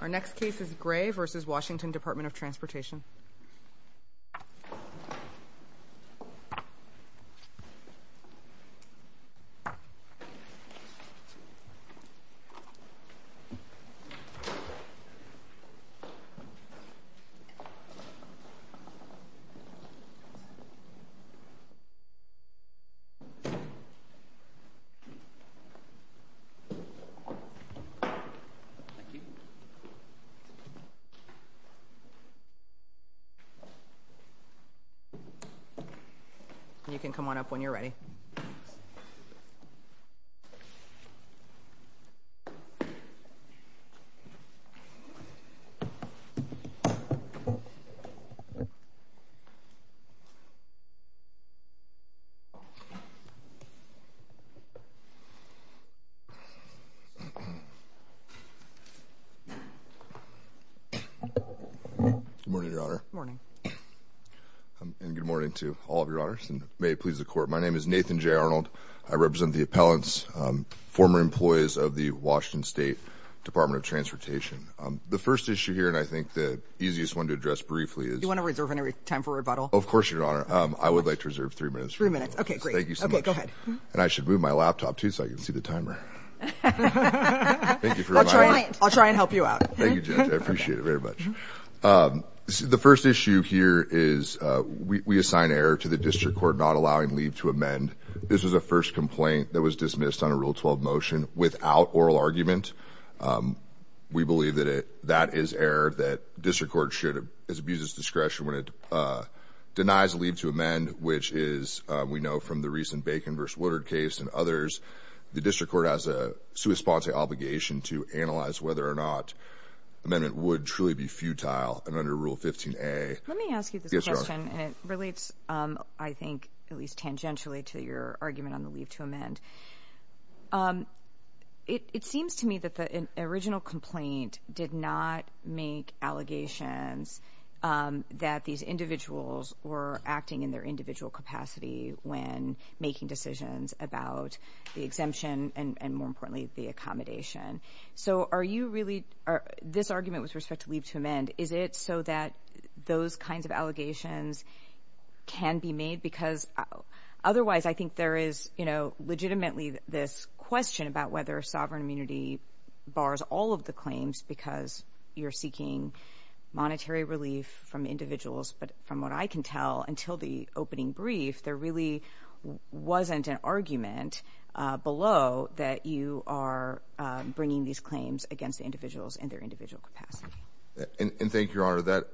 Our next case is Gray v. Washington Department of Transportation Thank you. You can come on up when you're ready. Good morning, Your Honor. Good morning. And good morning to all of Your Honors, and may it please the Court, my name is Nathan J. Arnold. I represent the appellants, former employees of the Washington State Department of Transportation. The first issue here, and I think the easiest one to address briefly is... Do you want to reserve any time for rebuttal? Of course, Your Honor. I would like to reserve three minutes. Three minutes. Okay, great. Thank you so much. Okay, go ahead. And I should move my laptop, too, so I can see the timer. Thank you for reminding me. I'll try and help you out. Thank you, Judge. I appreciate it very much. The first issue here is we assign error to the district court not allowing leave to amend. This was the first complaint that was dismissed on a Rule 12 motion without oral argument. We believe that that is error, that district court should abuse its discretion when it denies leave to amend, which is, we know from the recent Bacon v. Woodard case and others, the district court has a sua sponte obligation to analyze whether or not amendment would truly be futile. And under Rule 15a... Let me ask you this question. And it relates, I think, at least tangentially to your argument on the leave to amend. It seems to me that the original complaint did not make allegations that these individuals were acting in their individual capacity when making decisions about the exemption and, more importantly, the accommodation. So are you really...this argument with respect to leave to amend, is it so that those kinds of allegations can be made? Because otherwise I think there is, you know, legitimately this question about whether sovereign immunity bars all of the claims because you're seeking monetary relief from individuals. But from what I can tell, until the opening brief, there really wasn't an argument below that you are bringing these claims against individuals in their individual capacity. And thank you, Your Honor.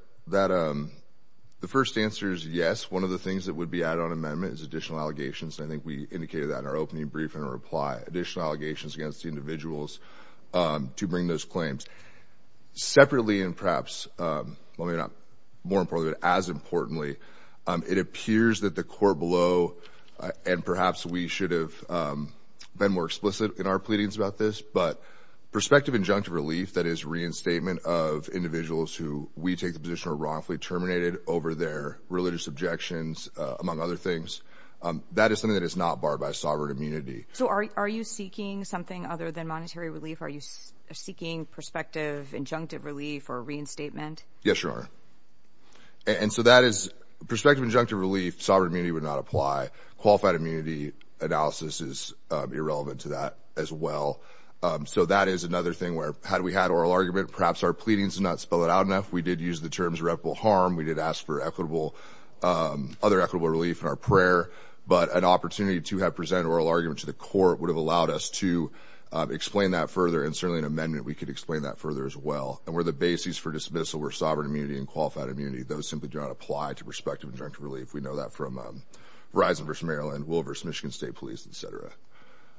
The first answer is yes. One of the things that would be added on amendment is additional allegations, and I think we indicated that in our opening brief in our reply, additional allegations against individuals to bring those claims. Separately and perhaps, well, maybe not more importantly, but as importantly, it appears that the court below, and perhaps we should have been more explicit in our pleadings about this, but prospective injunctive relief, that is reinstatement of individuals who we take the position are wrongfully terminated over their religious objections, among other things, that is something that is not barred by sovereign immunity. So are you seeking something other than monetary relief? Are you seeking prospective injunctive relief or reinstatement? Yes, Your Honor. And so that is prospective injunctive relief, sovereign immunity would not apply. Qualified immunity analysis is irrelevant to that as well. So that is another thing where had we had oral argument, perhaps our pleadings did not spell it out enough. We did use the terms irreparable harm. We did ask for other equitable relief in our prayer, but an opportunity to have presented oral argument to the court would have allowed us to explain that further, and certainly in amendment we could explain that further as well. And where the bases for dismissal were sovereign immunity and qualified immunity, those simply do not apply to prospective injunctive relief. We know that from Verizon v. Maryland, Will v. Michigan State Police, et cetera.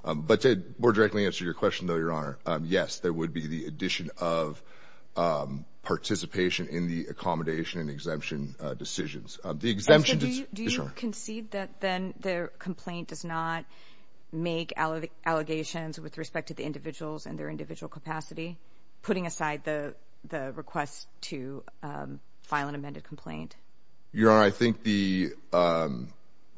But to more directly answer your question, though, Your Honor, yes, there would be the addition of participation in the accommodation and exemption decisions. Do you concede that then the complaint does not make allegations with respect to the individuals and their individual capacity, putting aside the request to file an amended complaint? Your Honor, I think the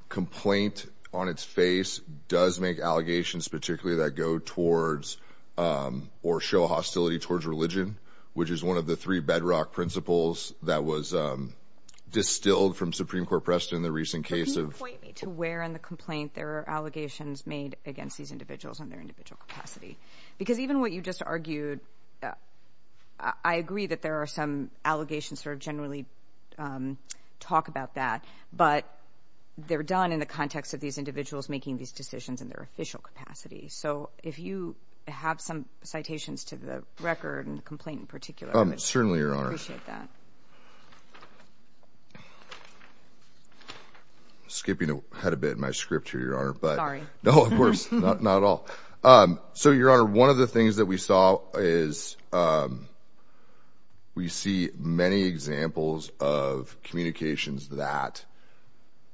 complaint on its face does make allegations particularly that go towards or show hostility towards religion, which is one of the three bedrock principles that was distilled from Supreme Court precedent in the recent case of— But can you point me to where in the complaint there are allegations made against these individuals and their individual capacity? Because even what you just argued, I agree that there are some allegations that generally talk about that, but they're done in the context of these individuals making these decisions in their official capacity. So if you have some citations to the record and the complaint in particular, I would appreciate that. Skipping ahead a bit in my script here, Your Honor. Sorry. No, of course, not at all. So, Your Honor, one of the things that we saw is we see many examples of communications that,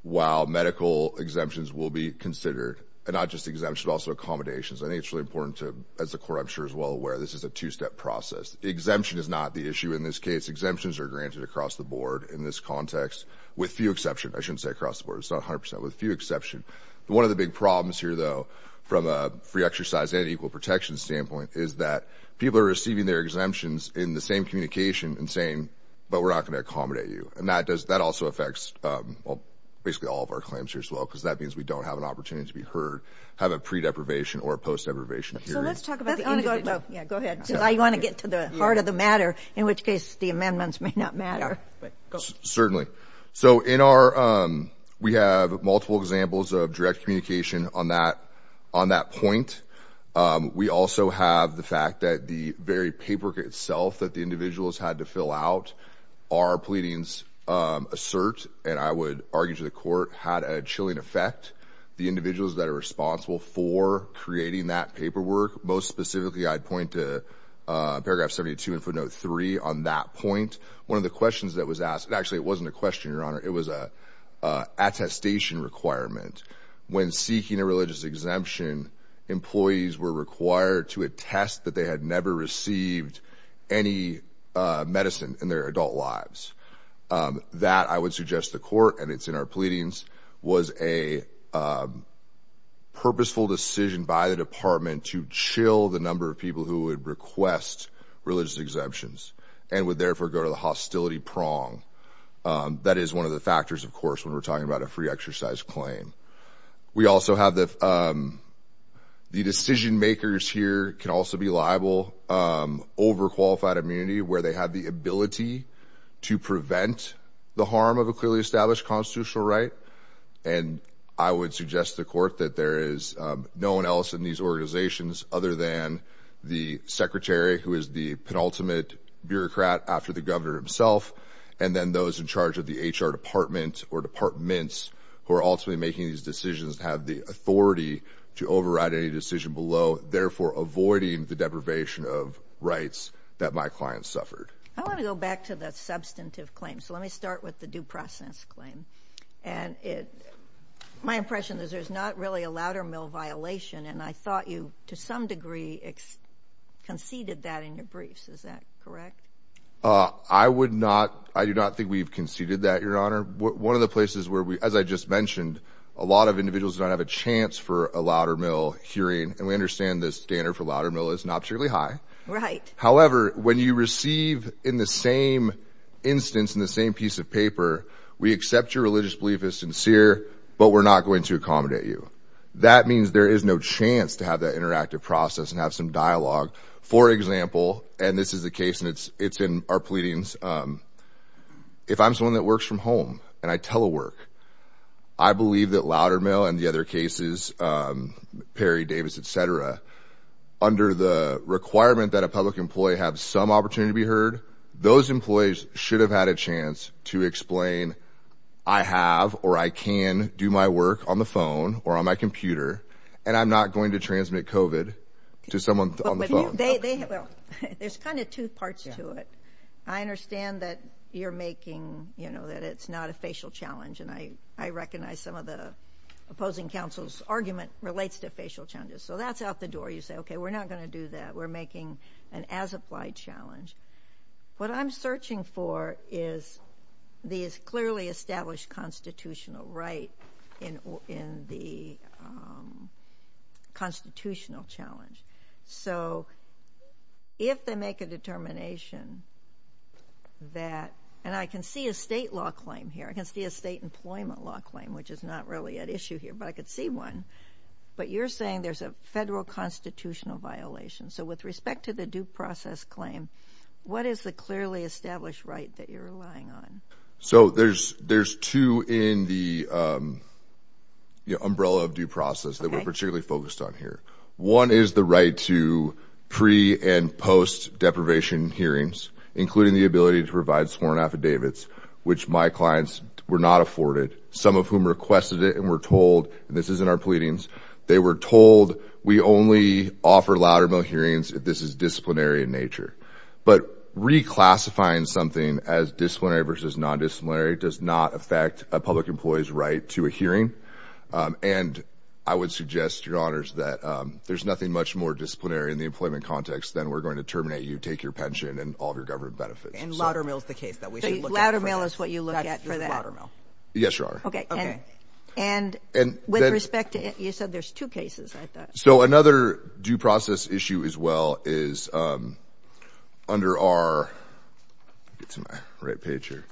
while medical exemptions will be considered, and not just exemptions, but also accommodations. I think it's really important to—as the Court, I'm sure, is well aware, this is a two-step process. Exemption is not the issue in this case. Exemptions are granted across the board in this context, with few exceptions. I shouldn't say across the board. It's not 100 percent. With few exceptions. One of the big problems here, though, from a free exercise and equal protection standpoint, is that people are receiving their exemptions in the same communication and saying, but we're not going to accommodate you. And that also affects basically all of our claims here as well, because that means we don't have an opportunity to be heard, have a pre-deprivation or post-deprivation hearing. So let's talk about the individual. Yeah, go ahead. Because I want to get to the heart of the matter, in which case the amendments may not matter. Certainly. So in our—we have multiple examples of direct communication on that point. We also have the fact that the very paperwork itself that the individuals had to fill out, our pleadings assert, and I would argue to the Court, had a chilling effect. The individuals that are responsible for creating that paperwork, most specifically I'd point to paragraph 72 and footnote 3 on that point. One of the questions that was asked—actually, it wasn't a question, Your Honor. It was an attestation requirement. When seeking a religious exemption, employees were required to attest that they had never received any medicine in their adult lives. That, I would suggest to the Court, and it's in our pleadings, was a purposeful decision by the Department to chill the number of people who would request religious exemptions and would therefore go to the hostility prong. That is one of the factors, of course, when we're talking about a free exercise claim. We also have the—the decision-makers here can also be liable over qualified immunity where they have the ability to prevent the harm of a clearly established constitutional right. And I would suggest to the Court that there is no one else in these organizations other than the secretary, who is the penultimate bureaucrat after the governor himself, and then those in charge of the HR department or departments who are ultimately making these decisions have the authority to override any decision below, therefore avoiding the deprivation of rights that my client suffered. I want to go back to the substantive claim, so let me start with the due process claim. And it—my impression is there's not really a louder mill violation, and I thought you, to some degree, conceded that in your briefs. Is that correct? I would not—I do not think we've conceded that, Your Honor. One of the places where we—as I just mentioned, a lot of individuals don't have a chance for a louder mill hearing, and we understand the standard for louder mill is not purely high. Right. However, when you receive in the same instance, in the same piece of paper, we accept your religious belief is sincere, but we're not going to accommodate you. That means there is no chance to have that interactive process and have some dialogue. For example, and this is the case, and it's in our pleadings, if I'm someone that works from home and I telework, I believe that louder mill and the other cases, Perry, Davis, et cetera, under the requirement that a public employee have some opportunity to be heard, those employees should have had a chance to explain, I have or I can do my work on the phone or on my computer, and I'm not going to transmit COVID to someone on the phone. There's kind of two parts to it. I understand that you're making, you know, that it's not a facial challenge, and I recognize some of the opposing counsel's argument relates to facial challenges. So that's out the door. You say, okay, we're not going to do that. We're making an as-applied challenge. What I'm searching for is these clearly established constitutional right in the constitutional challenge. So if they make a determination that, and I can see a state law claim here. I can see a state employment law claim, which is not really at issue here, but I could see one. But you're saying there's a federal constitutional violation. So with respect to the due process claim, what is the clearly established right that you're relying on? So there's two in the umbrella of due process that we're particularly focused on here. One is the right to pre- and post-deprivation hearings, including the ability to provide sworn affidavits, which my clients were not afforded, some of whom requested it and were told, and this is in our pleadings, they were told we only offer louder mill hearings if this is disciplinary in nature. But reclassifying something as disciplinary versus non-disciplinary does not affect a public employee's right to a hearing. And I would suggest, Your Honors, that there's nothing much more disciplinary in the employment context than we're going to terminate you, take your pension, and all of your government benefits. And louder mill is the case that we should look at. So louder mill is what you look at for that? Yes, Your Honor. Okay. And with respect to it, you said there's two cases, I thought. So another due process issue as well is under our, get to my right page here,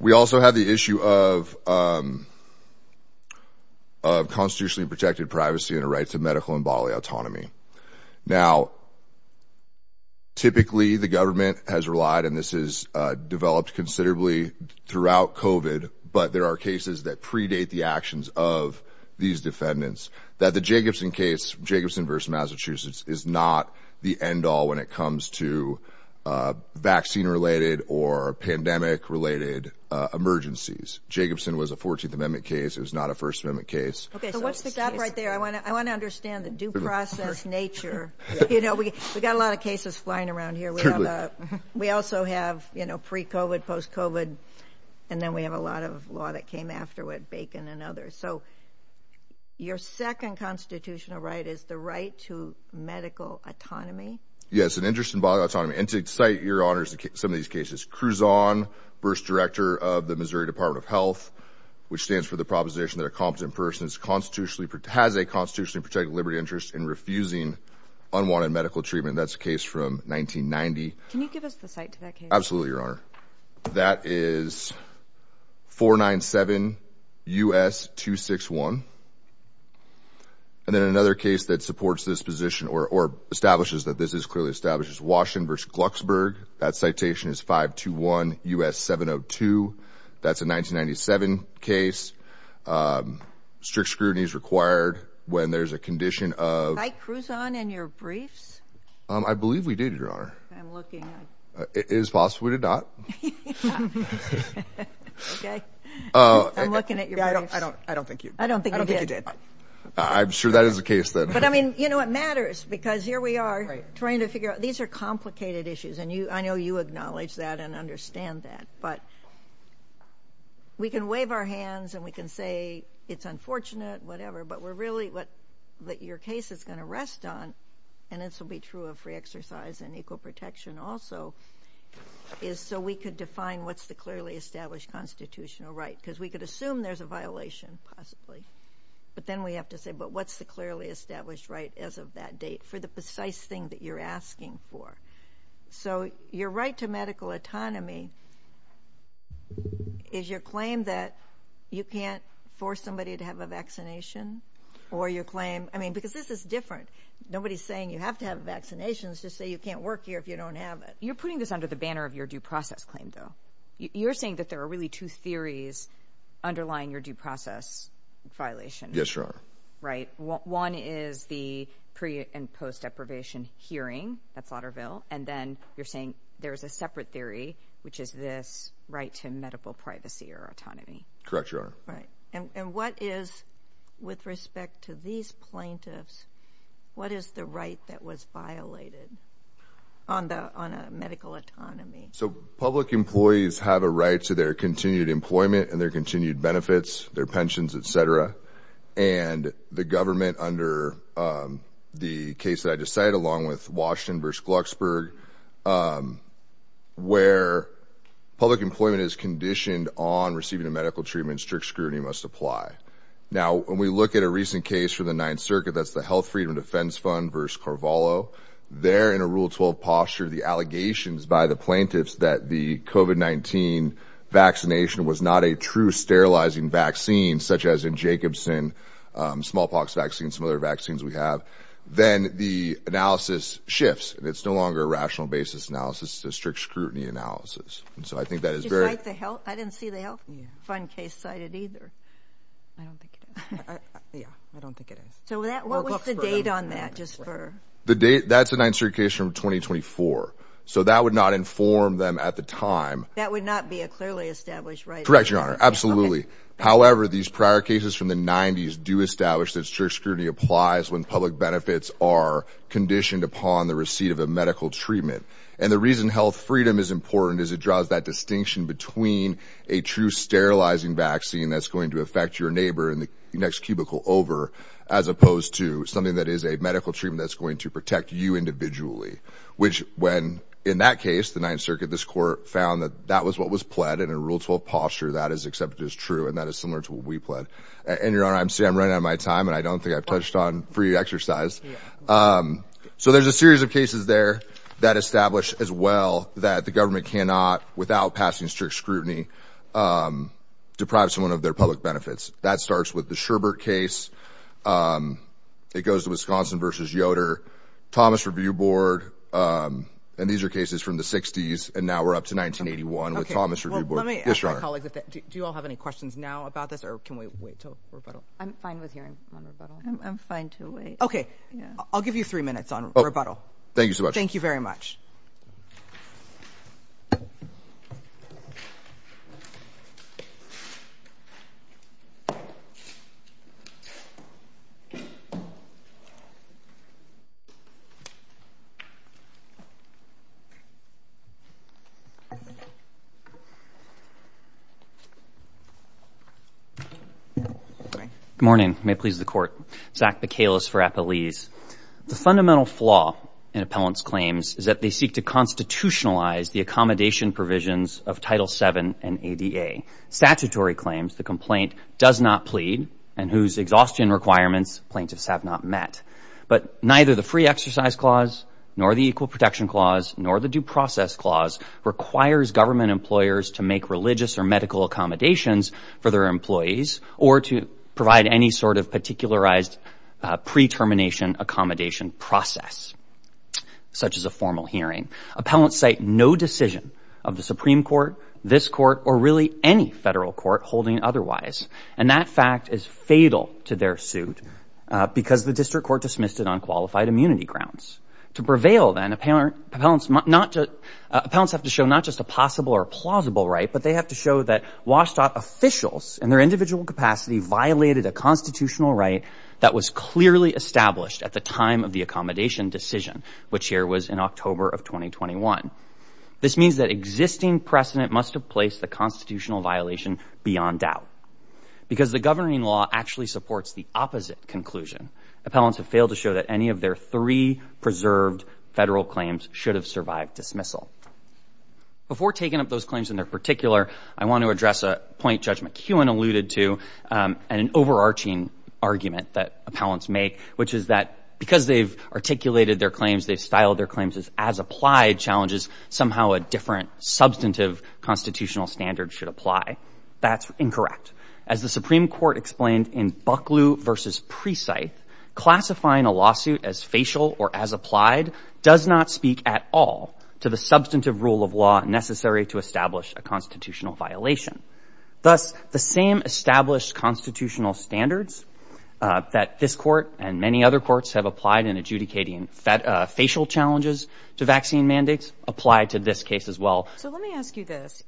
we also have the issue of constitutionally protected privacy and a right to medical and bodily autonomy. Now, typically the government has relied, and this has developed considerably throughout COVID, but there are cases that predate the actions of these defendants, that the Jacobson case, Jacobson versus Massachusetts, is not the end all when it comes to vaccine-related or pandemic-related emergencies. Jacobson was a 14th Amendment case. It was not a First Amendment case. So what's the gap right there? I want to understand the due process nature. You know, we've got a lot of cases flying around here. We also have, you know, pre-COVID, post-COVID, and then we have a lot of law that came after with Bacon and others. So your second constitutional right is the right to medical autonomy? Yes, an interest in bodily autonomy. And to cite, Your Honor, some of these cases, Cruzon, Burst Director of the Missouri Department of Health, which stands for the proposition that a competent person has a constitutionally protected liberty interest in refusing unwanted medical treatment. That's a case from 1990. Can you give us the cite to that case? Absolutely, Your Honor. That is 497 U.S. 261. And then another case that supports this position or establishes that this is clearly established is Washington versus Glucksburg. That citation is 521 U.S. 702. That's a 1997 case. Strict scrutiny is required when there's a condition of... Cite Cruzon in your briefs? I believe we did, Your Honor. I'm looking... It is possible we did not. Okay. I'm looking at your briefs. I don't think you did. I'm sure that is the case, then. But, I mean, you know, it matters because here we are trying to figure out... Right. These are complicated issues, and I know you acknowledge that and understand that. But we can wave our hands and we can say it's unfortunate, whatever, but we're really... What your case is going to rest on, and this will be true of free exercise and equal protection also, is so we could define what's the clearly established constitutional right. Because we could assume there's a violation, possibly. But then we have to say, but what's the clearly established right as of that date for the precise thing that you're asking for? So your right to medical autonomy is your claim that you can't force somebody to have a vaccination, or your claim... I mean, because this is different. Nobody's saying you have to have vaccinations just so you can't work here if you don't have it. You're putting this under the banner of your due process claim, though. You're saying that there are really two theories underlying your due process violation. Yes, Your Honor. Right. One is the pre- and post-deprivation hearing at Slaughterville, and then you're saying there's a separate theory, which is this right to medical privacy or autonomy. Correct, Your Honor. Right. And what is, with respect to these plaintiffs, what is the right that was violated on a medical autonomy? So public employees have a right to their continued employment and their continued benefits, their pensions, et cetera, and the government under the case that I just cited, along with Washington v. Glucksberg, where public employment is conditioned on receiving a medical treatment, strict scrutiny must apply. Now, when we look at a recent case from the Ninth Circuit, that's the Health Freedom and Defense Fund v. Carvalho, they're in a Rule 12 posture. The allegations by the plaintiffs that the COVID-19 vaccination was not a true sterilizing vaccine, such as in Jacobson, smallpox vaccine, and some other vaccines we have, then the analysis shifts, and it's no longer a rational basis analysis, it's a strict scrutiny analysis. I didn't see the Health Freedom and Defense Fund case cited either. I don't think it is. Yeah, I don't think it is. So what was the date on that? That's a Ninth Circuit case from 2024, so that would not inform them at the time. That would not be a clearly established right? Correct, Your Honor, absolutely. However, these prior cases from the 90s do establish that strict scrutiny applies when public benefits are conditioned upon the receipt of a medical treatment. And the reason health freedom is important is it draws that distinction between a true sterilizing vaccine that's going to affect your neighbor in the next cubicle over, as opposed to something that is a medical treatment that's going to protect you individually, which when, in that case, the Ninth Circuit, this court found that that was what was pled, and in Rule 12 posture that is accepted as true, and that is similar to what we pled. And, Your Honor, I'm running out of my time, and I don't think I've touched on free exercise. So there's a series of cases there that establish as well that the government cannot, without passing strict scrutiny, deprive someone of their public benefits. That starts with the Sherbert case, it goes to Wisconsin v. Yoder, Thomas Review Board, and these are cases from the 60s, and now we're up to 1981 with Thomas Review Board. Yes, Your Honor. Do you all have any questions now about this, or can we wait until rebuttal? I'm fine with hearing one rebuttal. I'm fine to wait. Okay. I'll give you three minutes on rebuttal. Thank you so much. Thank you very much. Good morning. May it please the Court. Zach Bacalus for Appelese. The fundamental flaw in appellant's claims is that they seek to constitutionalize the accommodation provisions of Title VII and ADA. Statutory claims, the complaint does not plead, and whose exhaustion requirements plaintiffs have not met. But neither the free exercise clause, nor the equal pay clause, nor the due process clause requires government employers to make religious or medical accommodations for their employees, or to provide any sort of particularized pre-termination accommodation process, such as a formal hearing. Appellants cite no decision of the Supreme Court, this Court, or really any federal court holding otherwise, and that fact is fatal to their suit because the district court dismissed it on qualified immunity grounds. To prevail, then, appellants have to show not just a possible or plausible right, but they have to show that WSDOT officials, in their individual capacity, violated a constitutional right that was clearly established at the time of the accommodation decision, which here was in October of 2021. This means that existing precedent must have placed the constitutional violation beyond doubt. Because the governing law actually supports the opposite conclusion, appellants have failed to show that any of their three preserved federal claims should have survived dismissal. Before taking up those claims in their particular, I want to address a point Judge McKeown alluded to and an overarching argument that appellants make, which is that because they've articulated their claims, they've styled their claims as as-applied challenges, somehow a different substantive constitutional standard should apply. That's incorrect. As the Supreme Court explained in Bucklew v. Presythe, classifying a lawsuit as facial or as applied does not speak at all to the substantive rule of law necessary to establish a constitutional violation. Thus, the same established constitutional standards that this court and many other courts have applied in adjudicating facial challenges to vaccine mandates apply to this case as well. So let me ask you this.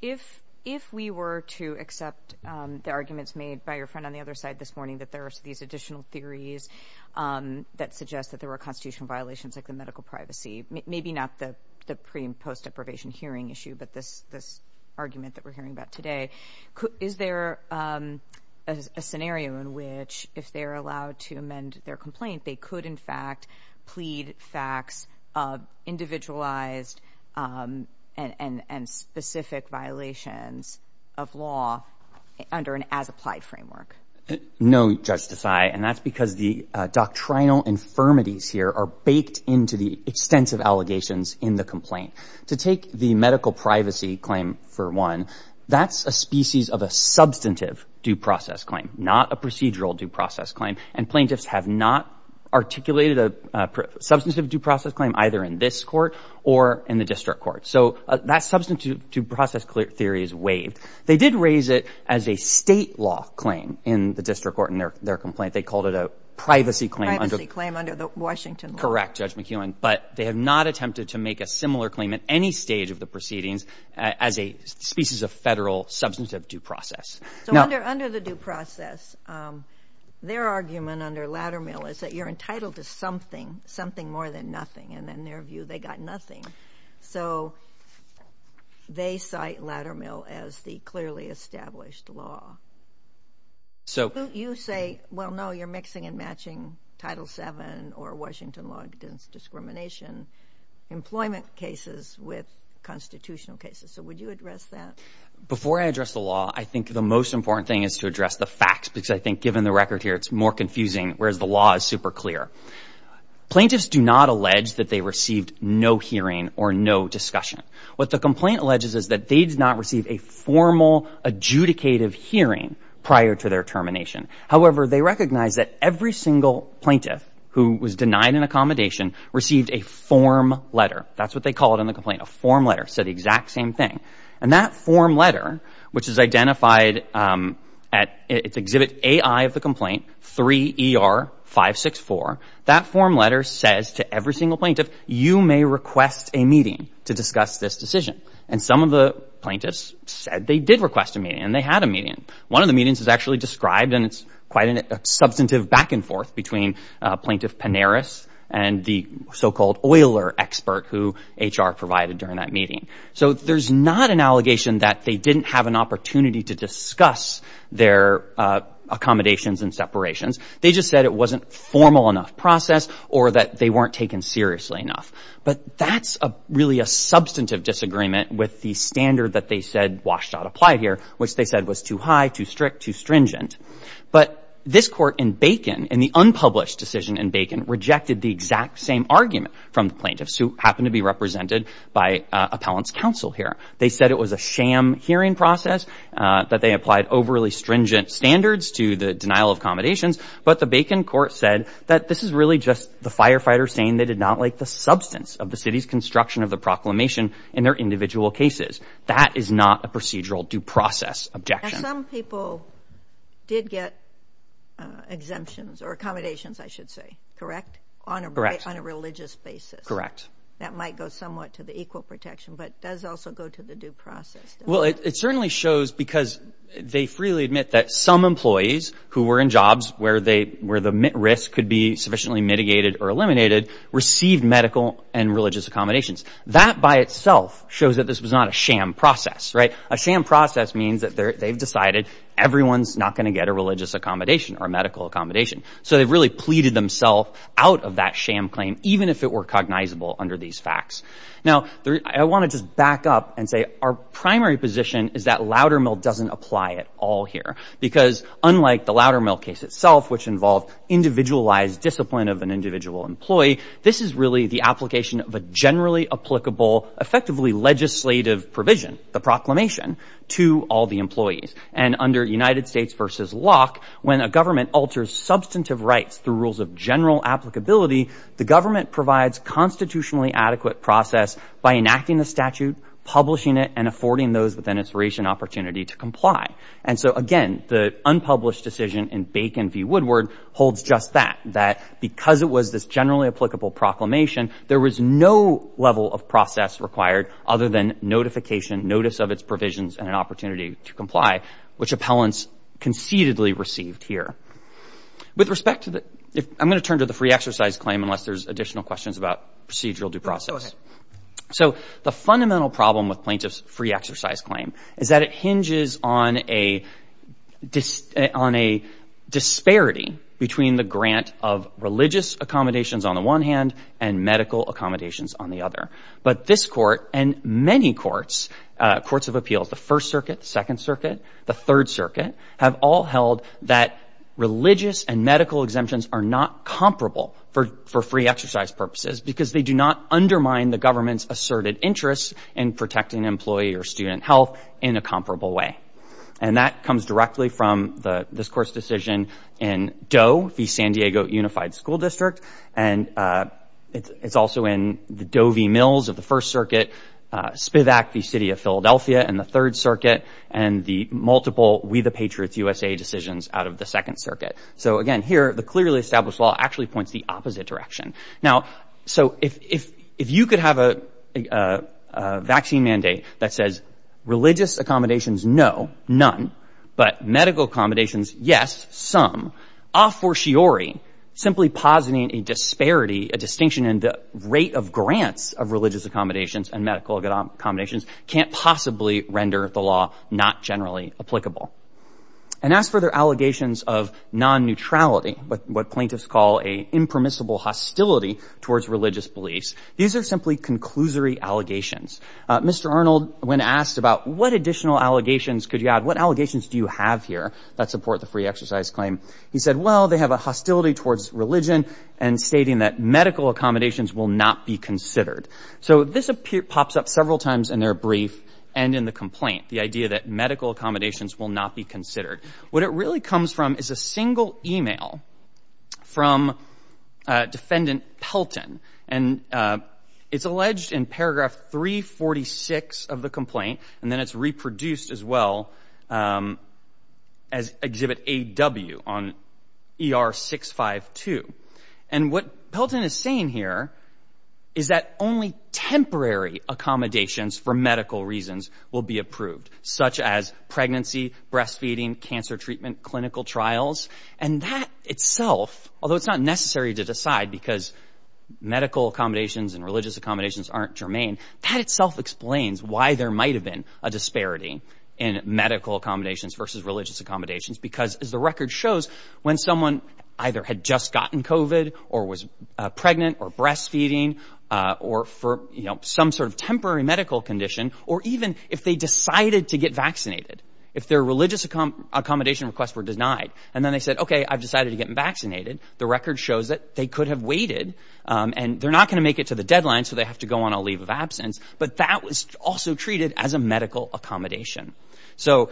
If we were to accept the arguments made by your friend on the other side this morning that there are these additional theories that suggest that there were constitutional violations like the medical privacy, maybe not the pre- and post-deprivation hearing issue, but this argument that we're hearing about today, is there a scenario in which, if they're allowed to amend their complaint, they could, in fact, plead facts of individualized and specific violations of law under an as-applied framework? No, Judge Desai, and that's because the doctrinal infirmities here are baked into the extensive allegations in the complaint. To take the medical privacy claim for one, that's a species of a substantive due process claim, not a procedural due process claim, and plaintiffs have not articulated a substantive due process claim either in this court or in the district court. So that substantive due process theory is waived. They did raise it as a state law claim in the district court in their complaint. They called it a privacy claim under... Privacy claim under the Washington law. Correct, Judge McEwen, but they have not attempted to make a similar claim at any stage of the proceedings as a species of federal substantive due process. So under the due process, their argument under Laddermill is that you're entitled to something, something more than nothing, and in their view, they got nothing. So they cite Laddermill as the clearly established law. So... You say, well, no, you're mixing and matching Title VII or Washington law against discrimination, employment cases with constitutional cases. So would you address that? Before I address the law, I think the most important thing is to address the facts, because I think given the record here, it's more confusing, whereas the law is super clear. Plaintiffs do not allege that they received no hearing or no discussion. What the complaint alleges is that they did not receive a formal adjudicative hearing prior to their termination. However, they recognize that every single plaintiff who was denied an accommodation received a form letter. That's what they call it in the complaint, a form letter. So the exact same thing. And that form letter, which is identified at... It's Exhibit AI of the complaint, 3ER564. That form letter says to every single plaintiff, you may request a meeting to discuss this decision. And some of the plaintiffs said they did request a meeting, and they had a meeting. One of the meetings is actually described, and it's quite a substantive back-and-forth between Plaintiff Pineris and the so-called Euler expert who HR provided during that meeting. So there's not an allegation that they didn't have an opportunity to discuss their accommodations and separations. They just said it wasn't a formal enough process or that they weren't taken seriously enough. But that's really a substantive disagreement with the standard that they said WSDOT applied here, which they said was too high, too strict, too stringent. But this court in Bacon, in the unpublished decision in Bacon, rejected the exact same argument from the plaintiffs, who happened to be represented by Appellant's Counsel here. They said it was a sham hearing process. That they applied overly stringent standards to the denial of accommodations. But the Bacon court said that this is really just the firefighters saying they did not like the substance of the city's construction of the proclamation in their individual cases. That is not a procedural due process objection. And some people did get exemptions, or accommodations, I should say, correct? Correct. On a religious basis. Correct. That might go somewhat to the equal protection, but it does also go to the due process, doesn't it? Well, it certainly shows, because they freely admit that some employees who were in jobs where the risk could be sufficiently mitigated or eliminated, received medical and religious accommodations. That by itself shows that this was not a sham process. A sham process means that they've decided everyone's not going to get a religious accommodation or a medical accommodation. So they've really pleaded themselves out of that sham claim, even if it were cognizable under these facts. Now, I want to just back up and say our primary position is that Loudermill doesn't apply at all here. Because unlike the Loudermill case itself, which involved individualized discipline of an individual employee, this is really the application of a generally applicable, effectively legislative provision, the proclamation, to all the employees. And under United States v. Locke, when a government alters substantive rights through rules of general applicability, the government provides constitutionally adequate process by enacting the statute, publishing it, and affording those with an inspiration opportunity to comply. And so, again, the unpublished decision in Bacon v. Woodward holds just that, that because it was this generally applicable proclamation, there was no level of process required other than notification, notice of its provisions, and an opportunity to comply, which appellants concededly received here. With respect to the... I'm going to turn to the free exercise claim, unless there's additional questions about procedural due process. So the fundamental problem with plaintiff's free exercise claim is that it hinges on a... on a disparity between the grant of religious accommodations on the one hand and medical accommodations on the other. But this Court and many courts, courts of appeals, the First Circuit, the Second Circuit, the Third Circuit, have all held that religious and medical exemptions are not comparable for free exercise purposes because they do not undermine the government's asserted interests in protecting employee or student health in a comparable way. And that comes directly from this Court's decision in Doe v. San Diego Unified School District, and it's also in the Doe v. Mills of the First Circuit, Spivak v. City of Philadelphia in the Third Circuit, and the multiple We the Patriots USA decisions out of the Second Circuit. So, again, here, the clearly established law actually points the opposite direction. Now, so if you could have a vaccine mandate that says religious accommodations, no, none, but medical accommodations, yes, some, a fortiori, simply positing a disparity, a distinction in the rate of grants of religious accommodations and medical accommodations can't possibly render the law not generally applicable. And as for their allegations of non-neutrality, what plaintiffs call a impermissible hostility towards religious beliefs, these are simply conclusory allegations. Mr. Arnold, when asked about what additional allegations could you add, what allegations do you have here that support the free exercise claim, he said, well, they have a hostility towards religion and stating that medical accommodations will not be considered. So this pops up several times in their brief and in the complaint, the idea that medical accommodations will not be considered. What it really comes from is a single email from defendant Pelton and it's alleged in paragraph 346 of the complaint and then it's reproduced as well as exhibit AW on ER 652. And what Pelton is saying here is that only temporary accommodations for medical reasons will be approved, such as pregnancy, breastfeeding, cancer treatment, clinical trials. And that itself, although it's not necessary to decide because medical accommodations and religious accommodations aren't germane, that itself explains why there might have been a disparity in medical accommodations versus religious accommodations because as the record shows, when someone either had just gotten COVID or was pregnant or breastfeeding or for some sort of temporary medical condition or even if they decided to get vaccinated, if their religious accommodation requests were denied and then they said, okay, I've decided to get vaccinated, the record shows that they could have waited and they're not going to make it to the deadline so they have to go on a leave of absence, but that was also treated as a medical accommodation. So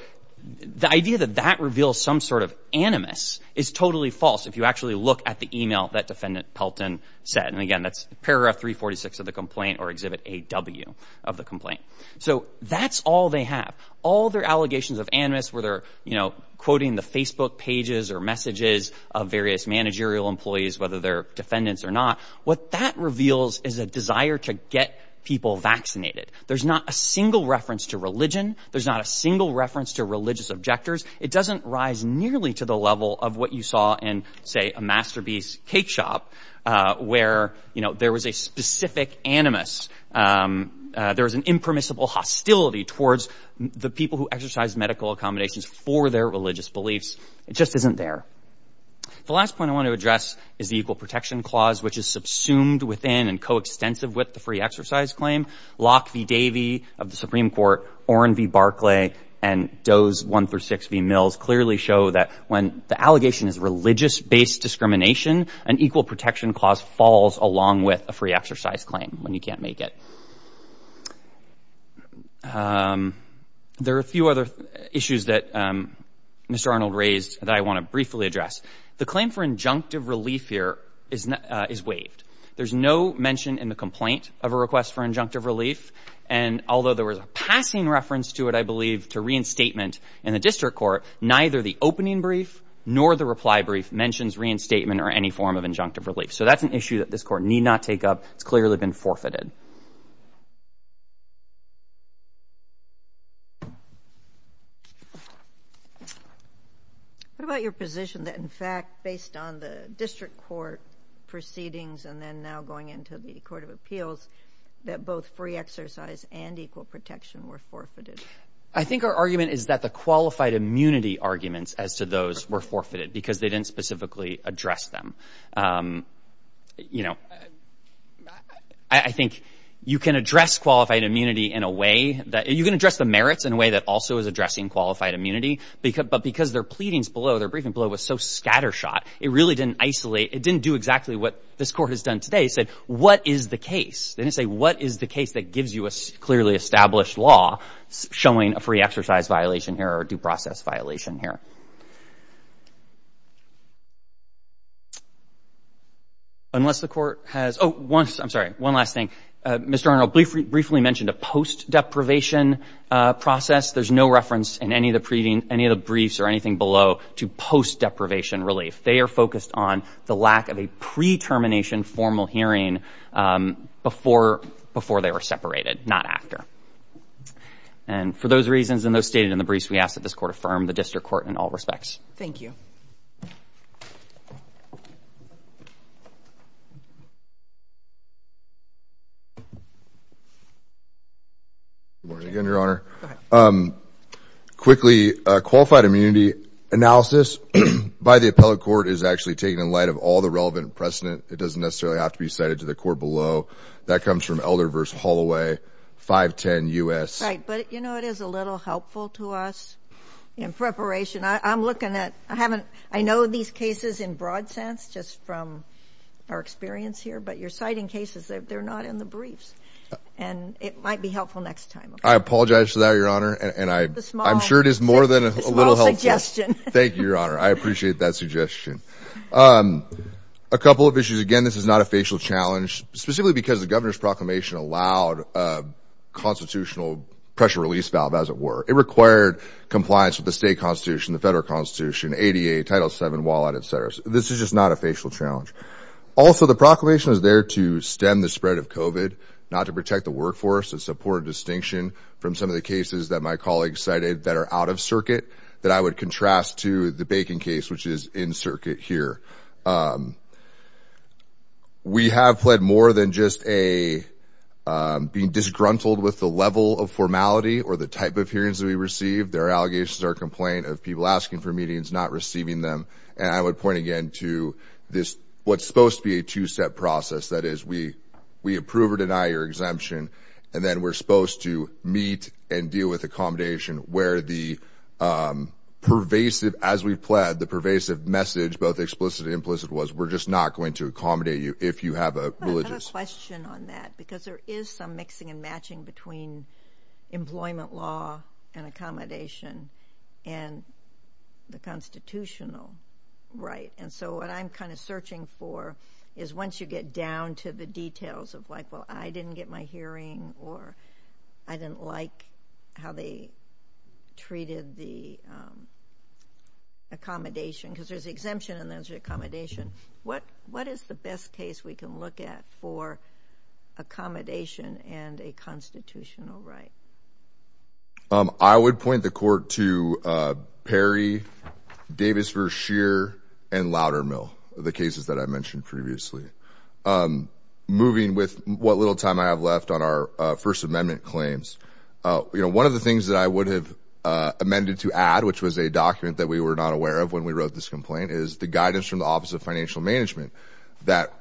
the idea that that reveals some sort of animus is totally false if you actually look at the email that defendant Pelton said. And again, that's paragraph 346 of the complaint or exhibit AW of the complaint. So that's all they have. All their allegations of animus where they're quoting the Facebook pages or messages of various managerial employees, whether they're defendants or not, what that reveals is a desire to get people vaccinated. There's not a single reference to religion. There's not a single reference to religious objectors. It doesn't rise nearly to the level of what you saw in say a Masterpiece cake shop where there was a specific animus. There was an impermissible hostility towards the people who exercise medical accommodations for their religious beliefs. It just isn't there. The last point I want to address is the Equal Protection Clause, which is subsumed within and coextensive with the Free Exercise Claim. Locke v. Davey of the Supreme Court, Oren v. Barclay and Doe's 136 v. Mills clearly show that when the allegation is religious-based discrimination, an Equal Protection Clause falls along with a Free Exercise Claim when you can't make it. There are a few other issues that Mr. Arnold raised that I want to briefly address. The claim for injunctive relief here is waived. There's no mention in the complaint of a request for injunctive relief, and although there was a passing reference to it, I believe, to reinstatement in the district court, neither the opening brief nor the reply brief mentions reinstatement or any form of injunctive relief. So that's an issue that this court need not take up. It's clearly been forfeited. What about your position that, in fact, based on the district court proceedings and then now going into the Court of Appeals, that both Free Exercise and Equal Protection were forfeited? I think our argument is that the qualified immunity arguments as to those were forfeited because they didn't specifically address them. I think you can address qualified immunity in a way that... You can address the merits in a way that also is addressing qualified immunity, but because their pleadings below, their briefing below was so scattershot, it really didn't isolate... It didn't do exactly what this court has done today. It said, what is the case? They didn't say, what is the case that gives you a clearly established law showing a free exercise violation here or a due process violation here? Unless the court has... Oh, one... I'm sorry. One last thing. Mr. Arnold briefly mentioned a post-deprivation process. There's no reference in any of the briefs or anything below to post-deprivation relief. They are focused on the lack of a pre-termination formal hearing before they were separated, not after. And for those reasons and those stated in the briefs, we ask that this court affirm the district court in all respects. Thank you. Good morning again, Your Honor. Go ahead. Quickly, qualified immunity analysis by the appellate court is actually taken in light of all the relevant precedent. It doesn't necessarily have to be cited to the court below. That comes from Elder versus Holloway, 510 U.S. Right, but, you know, it is a little helpful to us in preparation. I'm looking at... I know these cases in broad sense just from our experience here, but your citing cases, they're not in the briefs, and it might be helpful next time. I apologize for that, Your Honor, and I'm sure it is more than a little helpful. Thank you, Your Honor. I appreciate that suggestion. A couple of issues. Again, this is not a facial challenge, specifically because the governor's proclamation allowed a constitutional pressure release valve, as it were. It required compliance with the state constitution, the federal constitution, ADA, Title VII, WALAD, et cetera. This is just not a facial challenge. Also, the proclamation is there to stem the spread of COVID, not to protect the workforce. It's a poor distinction from some of the cases that my colleagues cited that are out of circuit that I would contrast to the Bacon case, which is in circuit here. We have pled more than just a... being disgruntled with the level of formality or the type of hearings that we receive. There are allegations or complaint of people asking for meetings, not receiving them. And I would point again to this, what's supposed to be a two-step process. That is, we approve or deny your exemption, and then we're supposed to meet and deal with accommodation where the pervasive, as we've pled, the pervasive message, both explicit and implicit, was we're just not going to accommodate you if you have a religious... I've got a question on that, because there is some mixing and matching between employment law and accommodation and the constitutional right. And so what I'm kind of searching for is once you get down to the details of, like, well, I didn't get my hearing or I didn't like how they treated the accommodation, because there's the exemption and there's the accommodation, what is the best case we can look at for accommodation and a constitutional right? I would point the court to Perry, Davis v. Scheer, and Loudermill, the cases that I mentioned previously. Moving with what little time I have left on our First Amendment claims, one of the things that I would have amended to add, which was a document that we were not aware of when we wrote this complaint, is the guidance from the Office of Financial Management that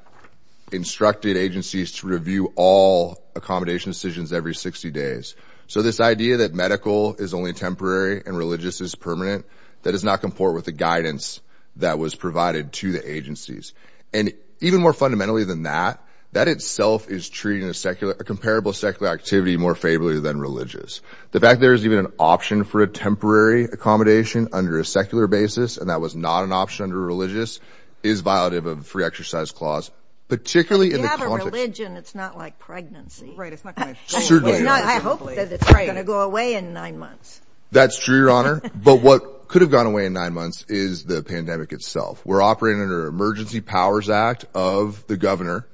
instructed agencies to review all accommodation decisions every 60 days. So this idea that medical is only temporary and religious is permanent, that does not comport with the guidance that was provided to the agencies. And even more fundamentally than that, that itself is treating a comparable secular activity more favorably than religious. The fact there is even an option for a temporary accommodation under a secular basis, and that was not an option under a religious, is violative of the Free Exercise Clause, particularly in the context... If you have a religion, it's not like pregnancy. Right, it's not going to change. Certainly not. I hope that it's not going to go away in nine months. That's true, Your Honor. But what could have gone away in nine months is the pandemic itself. We're operating under an Emergency Powers Act of the governor,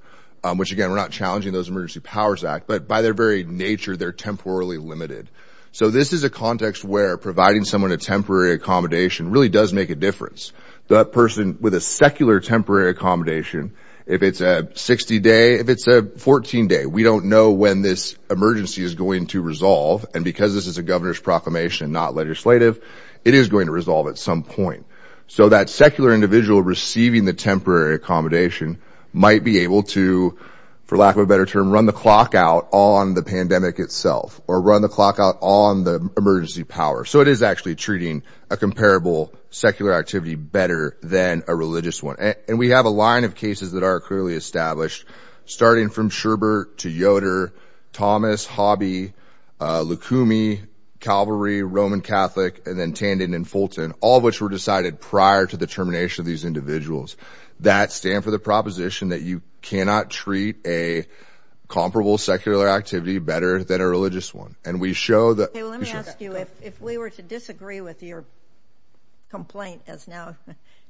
which again, we're not challenging those Emergency Powers Acts, but by their very nature, they're temporarily limited. So this is a context where providing someone a temporary accommodation really does make a difference. That person with a secular temporary accommodation, if it's a 60-day, if it's a 14-day, we don't know when this emergency is going to resolve. And because this is a governor's proclamation, not legislative, it is going to resolve at some point. So that secular individual receiving the temporary accommodation might be able to, for lack of a better term, run the clock out on the pandemic itself, or run the clock out on the emergency power. So it is actually treating a comparable secular activity better than a religious one. And we have a line of cases that are clearly established, starting from Schubert to Yoder, Thomas, Hobby, Lukumi, Calvary, Roman Catholic, and then Tandon and Fulton, all of which were decided prior to the termination of these individuals, that stand for the proposition that you cannot treat a comparable secular activity better than a religious one. And we show that... If you were to disagree with your complaint, as now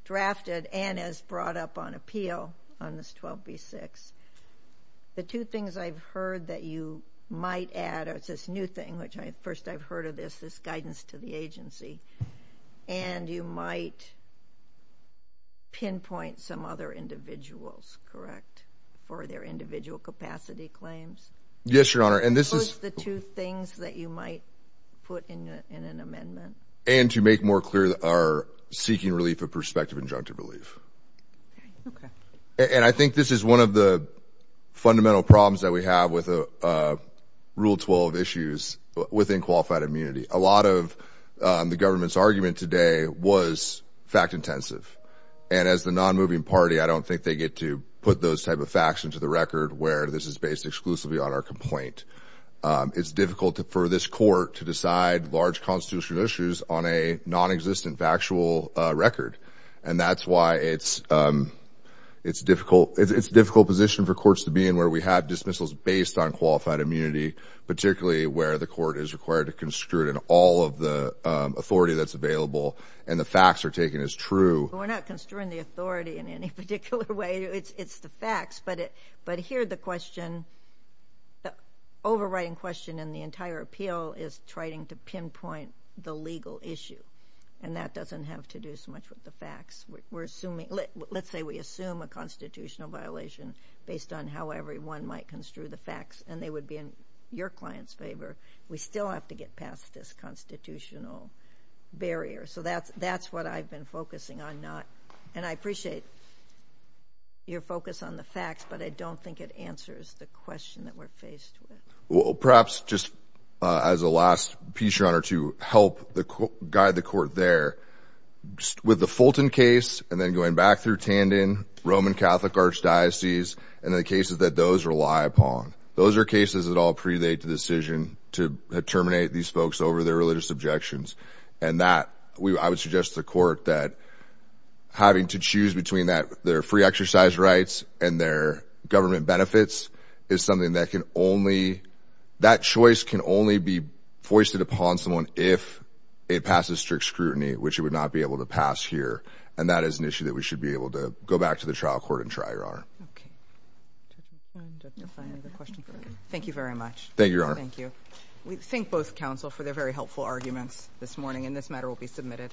drafted and as brought up on appeal on this 12B-6, the two things I've heard that you might add is this new thing, which first I've heard of this, is guidance to the agency. And you might pinpoint some other individuals, correct, for their individual capacity claims? Yes, Your Honor, and this is... The two things that you might put in an amendment. And to make more clear, our seeking relief of prospective injunctive relief. Okay. And I think this is one of the fundamental problems that we have with Rule 12 issues within qualified immunity. A lot of the government's argument today was fact-intensive. And as the non-moving party, I don't think they get to put those type of facts into the record where this is based exclusively on our complaint. It's difficult for this court to decide large constitutional issues on a non-existent factual record. And that's why it's a difficult position for courts to be in where we have dismissals based on qualified immunity, particularly where the court is required to construe in all of the authority that's available, and the facts are taken as true. We're not construing the authority in any particular way. It's the facts. But here the question, the overriding question in the entire appeal, is trying to pinpoint the legal issue. And that doesn't have to do so much with the facts. Let's say we assume a constitutional violation based on how everyone might construe the facts, and they would be in your client's favor. We still have to get past this constitutional barrier. So that's what I've been focusing on. And I appreciate your focus on the facts, but I don't think it answers the question that we're faced with. Well, perhaps just as a last piece, Your Honor, to help guide the court there, with the Fulton case and then going back through Tandon, Roman Catholic archdiocese, and the cases that those rely upon, those are cases that all predate the decision to terminate these folks over their religious objections. And that, I would suggest to the court, that having to choose between their free exercise rights and their government benefits is something that can only, that choice can only be foisted upon someone if it passes strict scrutiny, which it would not be able to pass here. And that is an issue that we should be able to go back to the trial court and try, Your Honor. Thank you very much. Thank you, Your Honor. Thank you. We thank both counsel for their very helpful arguments this morning, and this matter will be submitted.